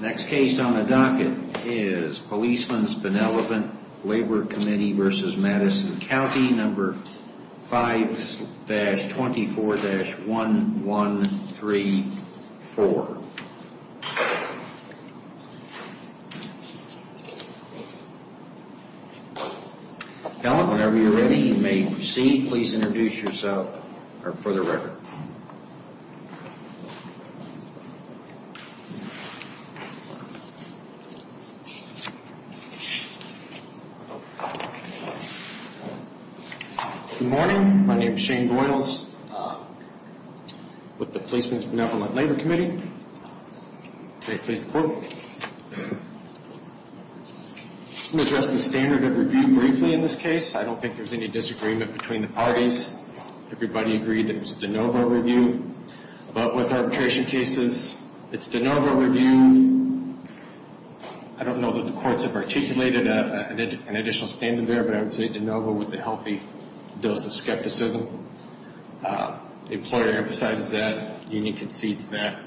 Next case on the docket is Policemen's Benevolent Labor Committee v. Madison County, No. 5-24-1134. Now whenever you're ready, you may proceed. Please introduce yourself or for the record. Good morning. My name is Shane Doyles. With the Policemen's Benevolent Labor Committee. May it please the Court. I'm going to address the standard of review briefly in this case. I don't think there's any disagreement between the parties. Everybody agreed that it was de novo review. But with arbitration cases, it's de novo review. I don't know that the courts have articulated an additional standard there, but I would say de novo with a healthy dose of skepticism. The employer emphasizes that. The union concedes that.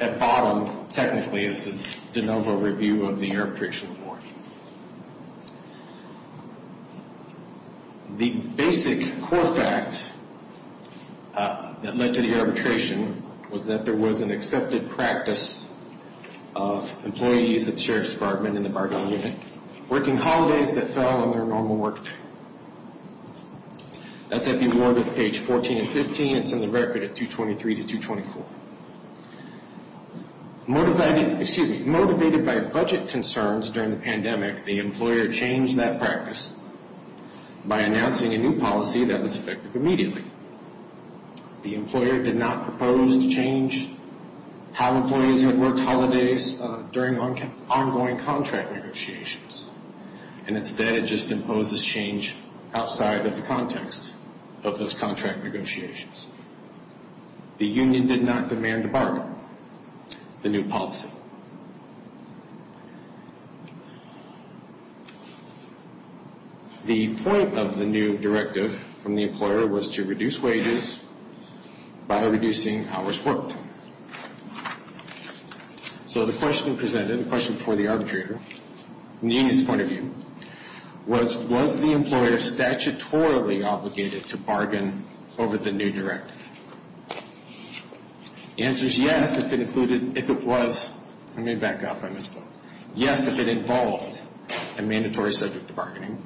At bottom, technically, it's de novo review of the arbitration report. The basic core fact that led to the arbitration was that there was an accepted practice of employees at the Sheriff's Department in the Bargain Unit working holidays that fell on their normal work day. That's at the award at page 14 and 15. It's in the record at 223 to 224. Motivated by budget concerns during the pandemic, the employer changed that practice by announcing a new policy that was effective immediately. The employer did not propose to change how employees had worked holidays during ongoing contract negotiations. And instead, it just imposes change outside of the context of those contract negotiations. The union did not demand a bargain. The new policy. The point of the new directive from the employer was to reduce wages by reducing hours worked. So the question presented, the question for the arbitrator, from the union's point of view, was, was the employer statutorily obligated to bargain over the new directive? The answer is yes, if it included, if it was, let me back up, I missed one. Yes, if it involved a mandatory subject to bargaining,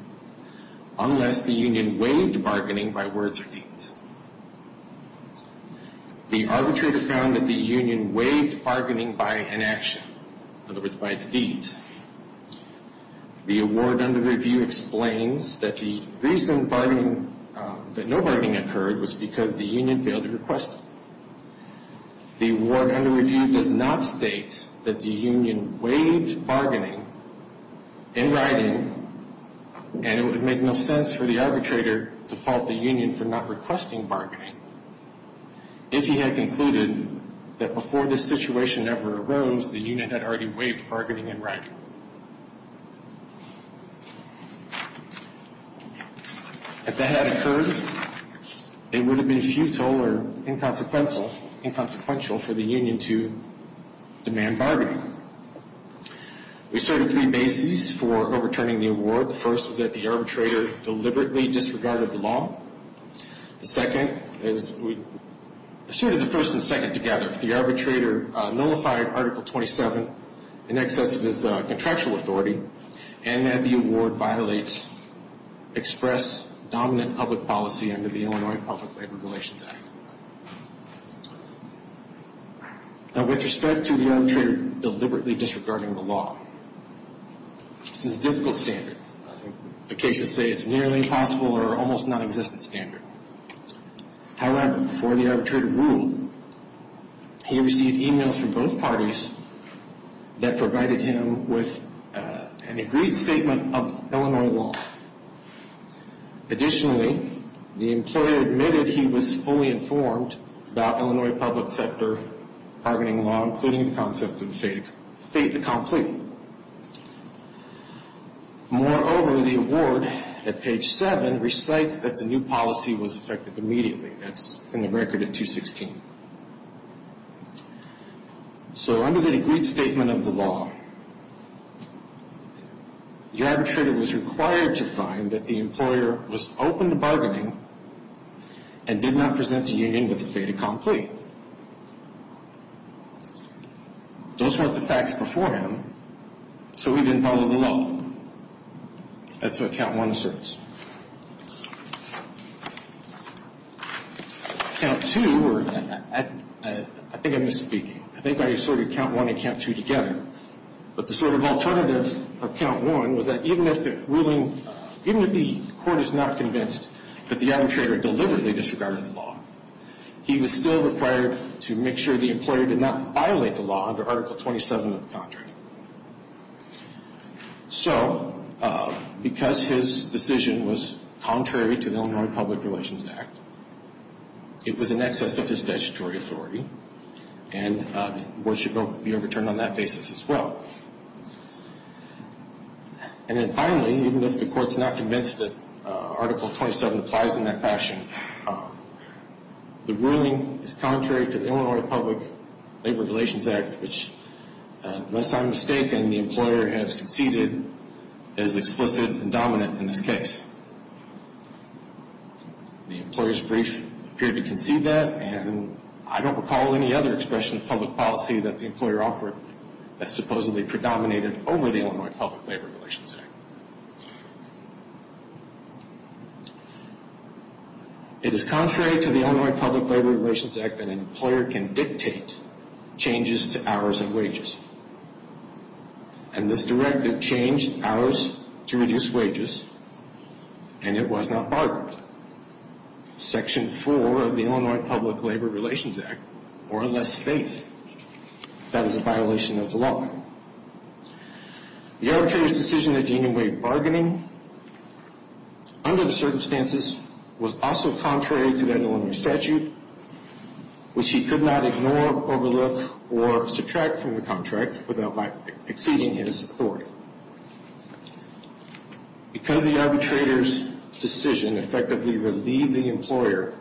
unless the union waived bargaining by words or deeds. The arbitrator found that the union waived bargaining by inaction, in other words, by its deeds. The award under review explains that the reason that no bargaining occurred was because the union failed to request it. The award under review does not state that the union waived bargaining in writing, and it would make no sense for the arbitrator to fault the union for not requesting bargaining, if he had concluded that before this situation ever arose, the union had already waived bargaining in writing. If that had occurred, it would have been futile or inconsequential for the union to demand bargaining. We asserted three bases for overturning the award. The first was that the arbitrator deliberately disregarded the law. The second is, we asserted the first and second together. The arbitrator nullified Article 27 in excess of his contractual authority, and that the award violates express dominant public policy under the Illinois Public Labor Relations Act. Now, with respect to the arbitrator deliberately disregarding the law, this is a difficult standard. I think the cases say it's a nearly impossible or almost nonexistent standard. However, before the arbitrator ruled, he received e-mails from both parties that provided him with an agreed statement of Illinois law. Additionally, the employer admitted he was fully informed about Illinois public sector bargaining law, including the concept of fait accompli. Moreover, the award at page 7 recites that the new policy was effective immediately. That's in the record at 216. So under the agreed statement of the law, the arbitrator was required to find that the employer was open to bargaining and did not present a union with the fait accompli. Those weren't the facts beforehand, so we didn't follow the law. That's what Count 1 asserts. Count 2, I think I'm misspeaking. I think I asserted Count 1 and Count 2 together, but the sort of alternative of Count 1 was that even if the court is not convinced that the arbitrator deliberately disregarded the law, he was still required to make sure the employer did not violate the law under Article 27 of the contract. So, because his decision was contrary to the Illinois Public Relations Act, it was in excess of his statutory authority, and the award should be overturned on that basis as well. And then finally, even if the court's not convinced that Article 27 applies in that fashion, the ruling is contrary to the Illinois Public Labor Relations Act, which, unless I'm mistaken, the employer has conceded is explicit and dominant in this case. The employer's brief appeared to concede that, and I don't recall any other expression of public policy that the employer offered that supposedly predominated over the Illinois Public Labor Relations Act. It is contrary to the Illinois Public Labor Relations Act that an employer can dictate changes to hours and wages, and this directive changed hours to reduce wages and it was not bargained. Section 4 of the Illinois Public Labor Relations Act, or unless faced, that is a violation of the law. The arbitrator's decision to deny bargaining under the circumstances was also contrary to that Illinois statute, which he could not ignore, overlook, or subtract from the contract without exceeding his authority. Because the arbitrator's decision effectively relieved the employer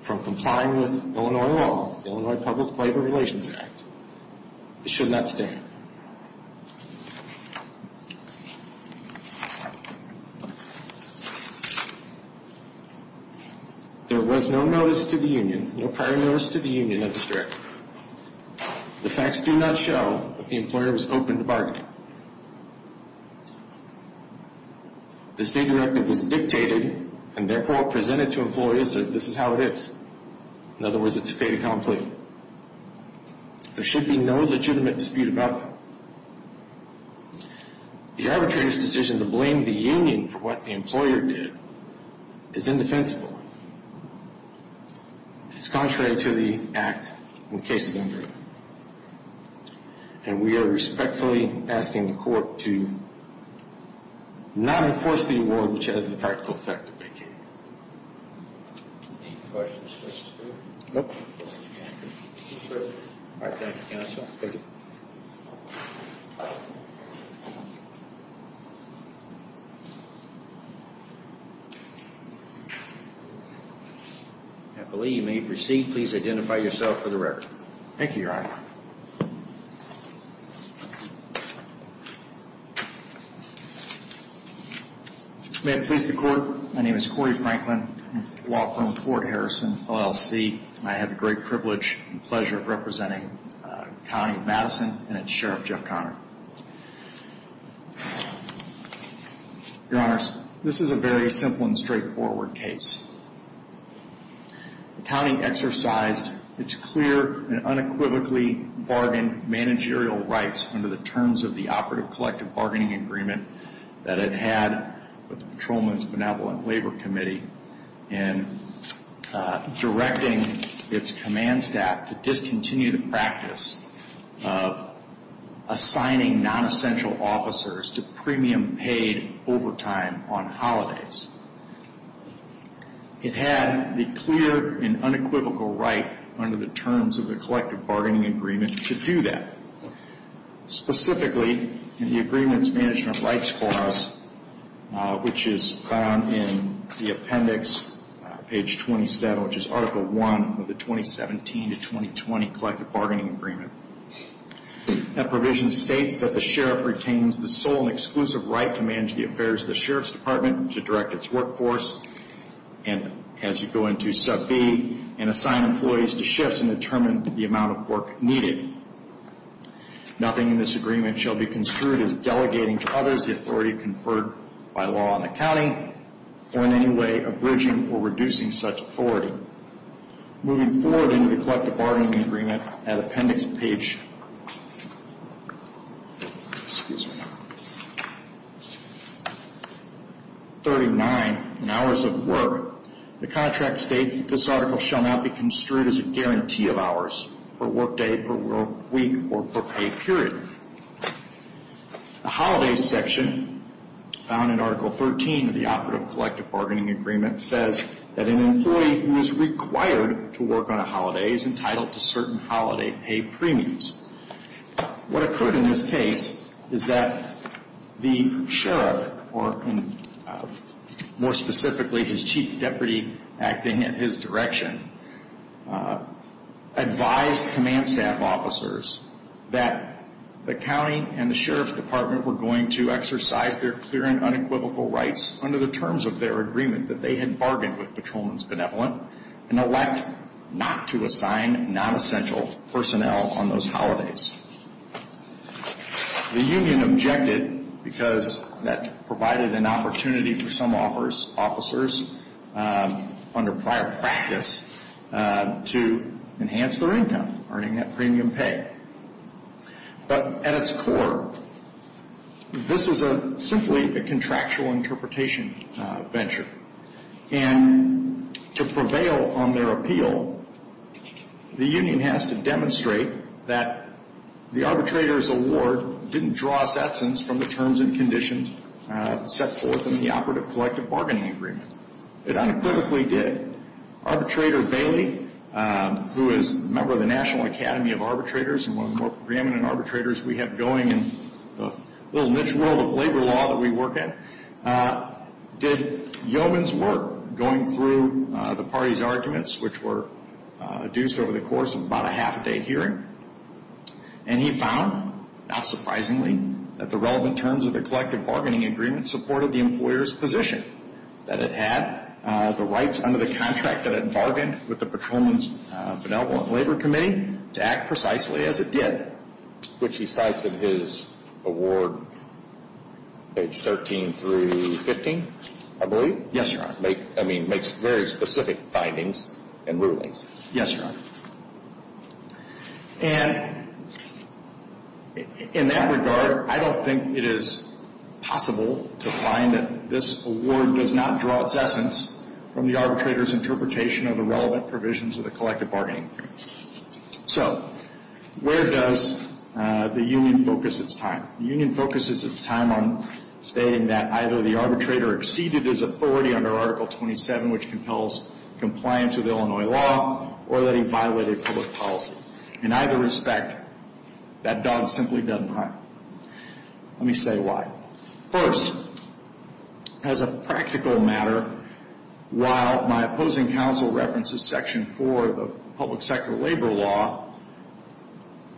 from complying with Illinois law, Illinois Public Labor Relations Act, it should not stand. There was no notice to the union, no prior notice to the union of this directive. The facts do not show that the employer was open to bargaining. This new directive was dictated and therefore presented to employers as this is how it is. In other words, it's fait accompli. There should be no legitimate dispute about that. The arbitrator's decision to blame the union for what the employer did is indefensible. It's contrary to the act and the cases under it. And we are respectfully asking the court to not enforce the award, which has the practical effect of vacating it. I believe you may proceed. Please identify yourself for the record. Thank you, Your Honor. May it please the court, my name is Corey Franklin, law firm Fort Harrison, LLC, and I have the great privilege and pleasure of representing County of Madison and its Sheriff, Jeff Conner. Your Honors, this is a very simple and straightforward case. The county exercised its clear and unequivocally bargained managerial rights under the terms of the Operative Collective Bargaining Agreement that it had with the Patrolman's Benevolent Labor Committee in directing its command staff to discontinue the practice of assigning non-essential officers to premium paid overtime on holidays. It had the clear and unequivocal right under the terms of the Collective Bargaining Agreement to do that, specifically in the Agreements Management Rights Clause, which is found in the appendix, page 27, which is Article I of the 2017 to 2020 Collective Bargaining Agreement. That provision states that the Sheriff retains the sole and exclusive right to manage the affairs of the Sheriff's Department, to direct its workforce, and as you go into Sub B, and assign employees to shifts and determine the amount of work needed. Nothing in this agreement shall be construed as delegating to others the authority conferred by law on the county, or in any way averting or reducing such authority. Moving forward into the Collective Bargaining Agreement, that appendix, page... Excuse me. 39, in hours of work, the contract states that this article shall not be construed as a guarantee of hours for work day, for work week, or for pay, period. The holidays section, found in Article 13 of the Operative Collective Bargaining Agreement, says that an employee who is required to work on a holiday is entitled to certain holiday pay premiums. What occurred in this case is that the Sheriff, or more specifically, his Chief Deputy acting in his direction, advised command staff officers that the county and the Sheriff's Department were going to exercise their clear and unequivocal rights under the terms of their agreement that they had bargained with Patrolman's Benevolent, and elect not to assign non-essential personnel on those holidays. The union objected because that provided an opportunity for some officers, under prior practice, to enhance their income, earning that premium pay. But at its core, this is simply a contractual interpretation venture. And to prevail on their appeal, the union has to demonstrate that the arbitrator's award didn't draw a sentence from the terms and conditions set forth in the Operative Collective Bargaining Agreement. It unequivocally did. Arbitrator Bailey, who is a member of the National Academy of Arbitrators and one of the more preeminent arbitrators we have going in the little niche world of labor law that we work in, did yeoman's work going through the party's arguments, which were adduced over the course of about a half a day hearing. And he found, not surprisingly, that the relevant terms of the Collective Bargaining Agreement supported the employer's position that it had the rights under the contract that it bargained with the Patrolman's Benevolent Labor Committee to act precisely as it did. Which he cites in his award, page 13 through 15, I believe? Yes, Your Honor. I mean, makes very specific findings and rulings. Yes, Your Honor. And in that regard, I don't think it is possible to find that this award does not draw its essence from the arbitrator's interpretation of the relevant provisions of the Collective Bargaining Agreement. So where does the union focus its time? The union focuses its time on stating that either the arbitrator exceeded his authority under Article 27, which compels compliance with Illinois law, or that he violated public policy. In either respect, that dog simply doesn't hunt. Let me say why. First, as a practical matter, while my opposing counsel references Section 4 of the Public Sector Labor Law,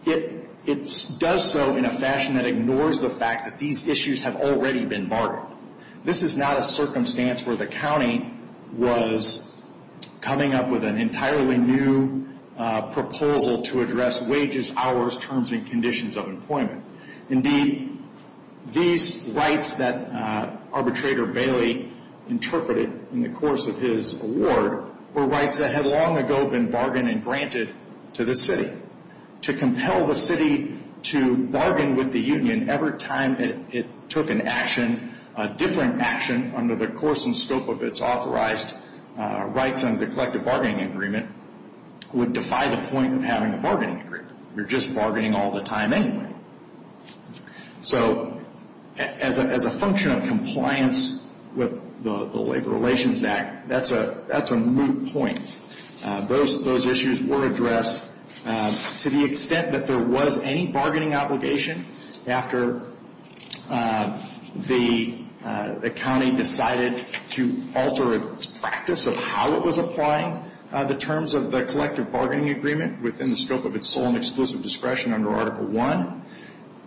it does so in a fashion that ignores the fact that these issues have already been bargained. This is not a circumstance where the county was coming up with an entirely new proposal to address wages, hours, terms, and conditions of employment. Indeed, these rights that Arbitrator Bailey interpreted in the course of his award were rights that had long ago been bargained and granted to the city. To compel the city to bargain with the union every time it took an action a different action under the course and scope of its authorized rights under the Collective Bargaining Agreement would defy the point of having a bargaining agreement. You're just bargaining all the time anyway. So as a function of compliance with the Labor Relations Act, that's a moot point. Those issues were addressed to the extent that there was any bargaining obligation after the county decided to alter its practice of how it was applying the terms of the Collective Bargaining Agreement within the scope of its sole and exclusive discretion under Article I.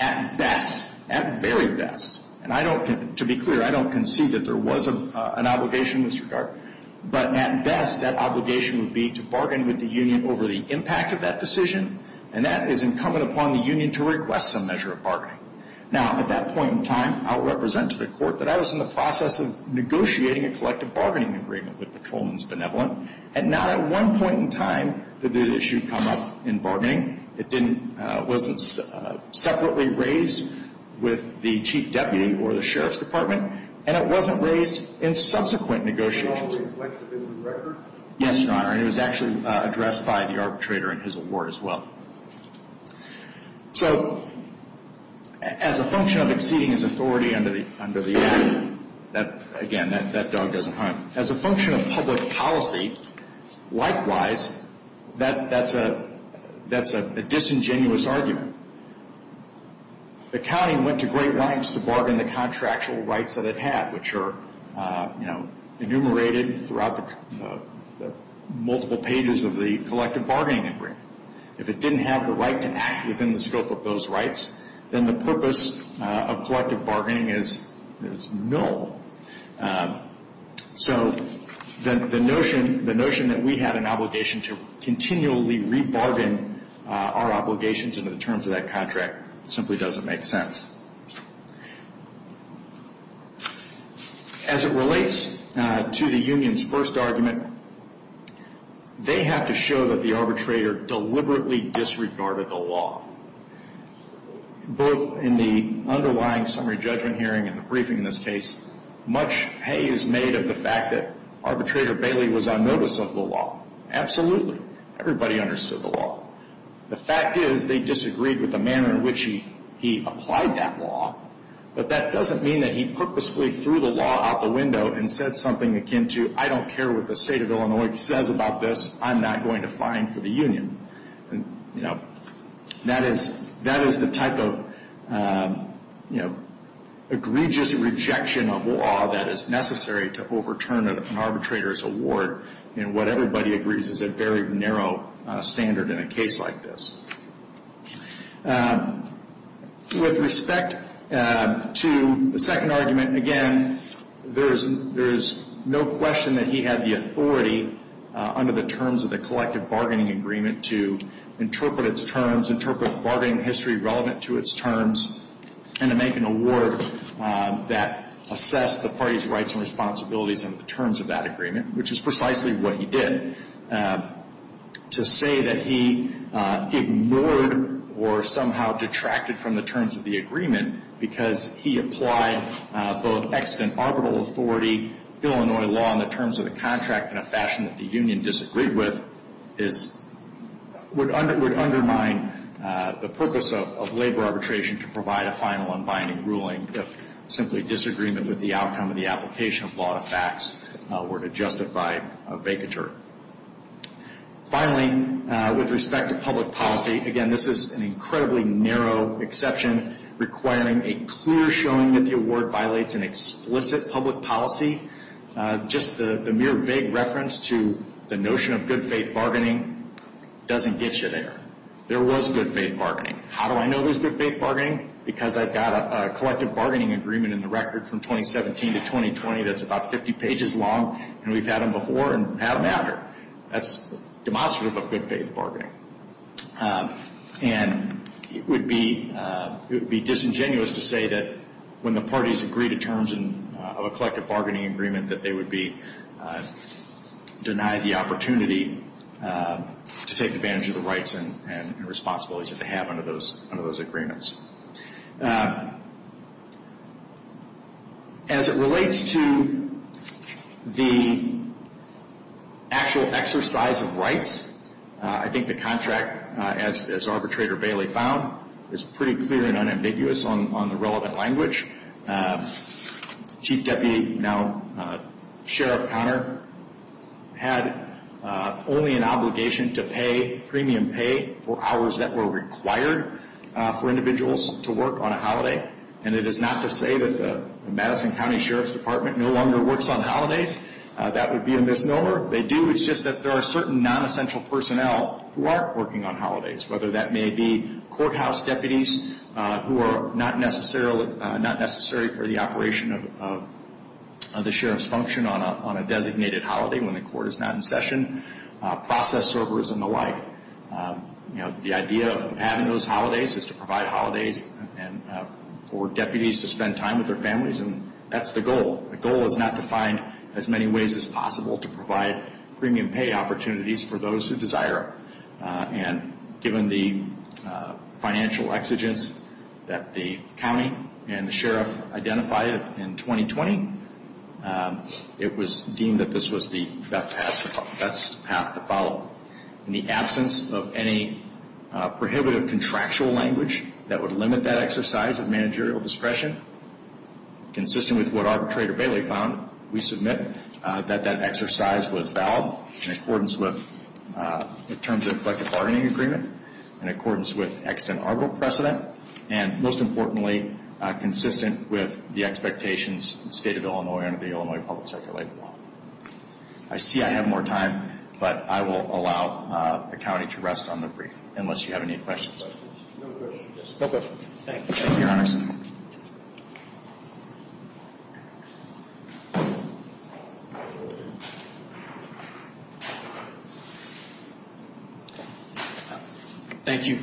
At best, at very best, and to be clear, I don't concede that there was an obligation in this regard, but at best that obligation would be to bargain with the union over the impact of that decision, and that is incumbent upon the union to request some measure of bargaining. Now, at that point in time, I will represent to the Court that I was in the process of negotiating a Collective Bargaining Agreement with Patrolman's Benevolent, and not at one point in time did the issue come up in bargaining. It wasn't separately raised with the Chief Deputy or the Sheriff's Department, and it wasn't raised in subsequent negotiations. Did it always reflect the building record? Yes, Your Honor. And it was actually addressed by the arbitrator in his award as well. So as a function of exceeding his authority under the Act, again, that dog doesn't hunt. As a function of public policy, likewise, that's a disingenuous argument. The county went to great lengths to bargain the contractual rights that it had, which are enumerated throughout the multiple pages of the Collective Bargaining Agreement. If it didn't have the right to act within the scope of those rights, then the purpose of collective bargaining is null. So the notion that we have an obligation to continually rebargain our obligations under the terms of that contract simply doesn't make sense. As it relates to the union's first argument, they have to show that the arbitrator deliberately disregarded the law. Both in the underlying summary judgment hearing and the briefing in this case, much pay is made of the fact that arbitrator Bailey was on notice of the law. Absolutely. Everybody understood the law. The fact is they disagreed with the manner in which he applied that law, but that doesn't mean that he purposefully threw the law out the window and said something akin to, I don't care what the state of Illinois says about this, I'm not going to fine for the union. That is the type of egregious rejection of law that is necessary to overturn an arbitrator's award and what everybody agrees is a very narrow standard in a case like this. With respect to the second argument, again, there is no question that he had the authority under the terms of the collective bargaining agreement to interpret its terms, interpret bargaining history relevant to its terms, and to make an award that assessed the party's rights and responsibilities under the terms of that agreement, which is precisely what he did. To say that he ignored or somehow detracted from the terms of the agreement because he applied both extant arbitral authority, Illinois law in the terms of the contract in a fashion that the union disagreed with, would undermine the purpose of labor arbitration to provide a final unbinding ruling if simply disagreement with the outcome of the application of law to facts were to justify a vacatur. Finally, with respect to public policy, again, this is an incredibly narrow exception requiring a clear showing that the award violates an explicit public policy. Just the mere vague reference to the notion of good faith bargaining doesn't get you there. There was good faith bargaining. How do I know there's good faith bargaining? Because I've got a collective bargaining agreement in the record from 2017 to 2020 that's about 50 pages long, and we've had them before and had them after. That's demonstrative of good faith bargaining. And it would be disingenuous to say that when the parties agree to terms of a collective bargaining agreement that they would be denied the opportunity to take advantage of the rights and responsibilities that they have under those agreements. As it relates to the actual exercise of rights, I think the contract, as Arbitrator Bailey found, is pretty clear and unambiguous on the relevant language. Chief Deputy, now Sheriff Conner, had only an obligation to pay premium pay for hours that were required for individuals to work on a holiday. And it is not to say that the Madison County Sheriff's Department no longer works on holidays. That would be a misnomer. They do. It's just that there are certain nonessential personnel who aren't working on holidays, whether that may be courthouse deputies who are not necessary for the operation of the sheriff's function on a designated holiday when the court is not in session, process servers and the like. The idea of having those holidays is to provide holidays for deputies to spend time with their families, and that's the goal. The goal is not to find as many ways as possible to provide premium pay opportunities for those who desire it. And given the financial exigence that the county and the sheriff identified in 2020, it was deemed that this was the best path to follow. In the absence of any prohibitive contractual language that would limit that exercise of managerial discretion, consistent with what Arbitrator Bailey found, we submit that that exercise was valid in accordance with the terms of the collective bargaining agreement, in accordance with extant arbitral precedent, and most importantly, consistent with the expectations of the State of Illinois under the Illinois Public Sector Labor Law. I see I have more time, but I will allow the county to rest on the brief unless you have any questions. No questions. Thank you, Your Honor. Thank you.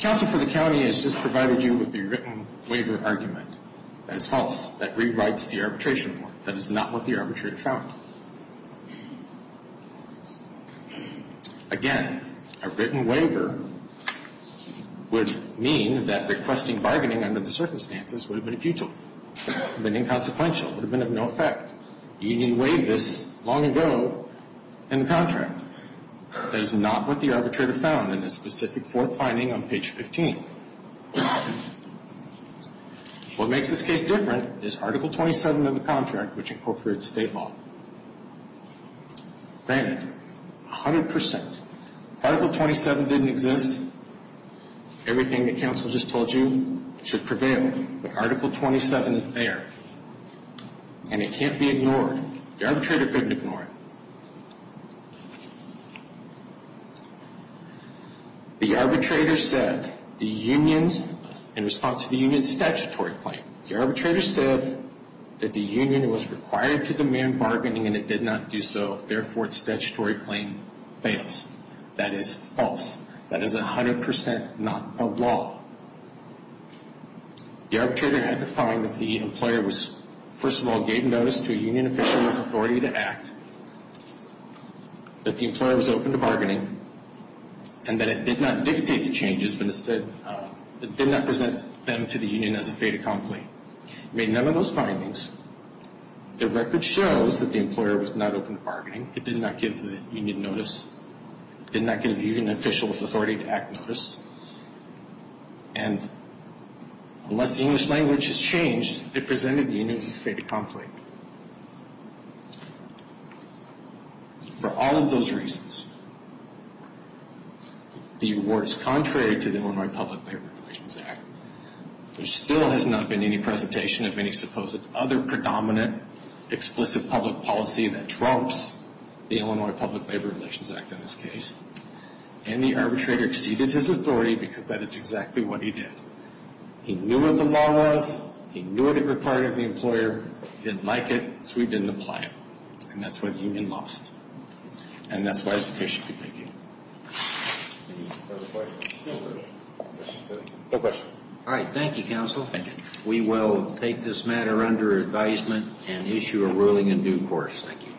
Counsel for the county has just provided you with the written waiver argument. That is false. That rewrites the arbitration report. That is not what the arbitrator found. Again, a written waiver would mean that requesting bargaining under the circumstances would have been futile. It would have been inconsequential. It would have been of no effect. The union waived this long ago in the contract. That is not what the arbitrator found in the specific fourth finding on page 15. What makes this case different is Article 27 of the contract, which incorporates state law. Granted, 100 percent. Article 27 didn't exist. Everything that counsel just told you should prevail. But Article 27 is there, and it can't be ignored. The arbitrator couldn't ignore it. The arbitrator said in response to the union's statutory claim, the arbitrator said that the union was required to demand bargaining, and it did not do so. Therefore, its statutory claim fails. That is false. That is 100 percent not the law. The arbitrator had to find that the employer was, first of all, gave notice to a union official with authority to act, that the employer was open to bargaining, and that it did not dictate the changes, but instead it did not present them to the union as a fait accompli. It made none of those findings. The record shows that the employer was not open to bargaining. It did not give the union notice. It did not give the union official with authority to act notice. And unless the English language has changed, it presented the union as a fait accompli. For all of those reasons, the award is contrary to the Illinois Public Labor Relations Act. There still has not been any presentation of any supposed other predominant, explicit public policy that trumps the Illinois Public Labor Relations Act in this case. And the arbitrator exceeded his authority because that is exactly what he did. He knew what the law was. He knew it required the employer. He didn't like it, so he didn't apply it. And that's why the union lost. And that's why this case should be taken. No questions. All right, thank you, counsel. Thank you. We will take this matter under advisement and issue a ruling in due course. Thank you.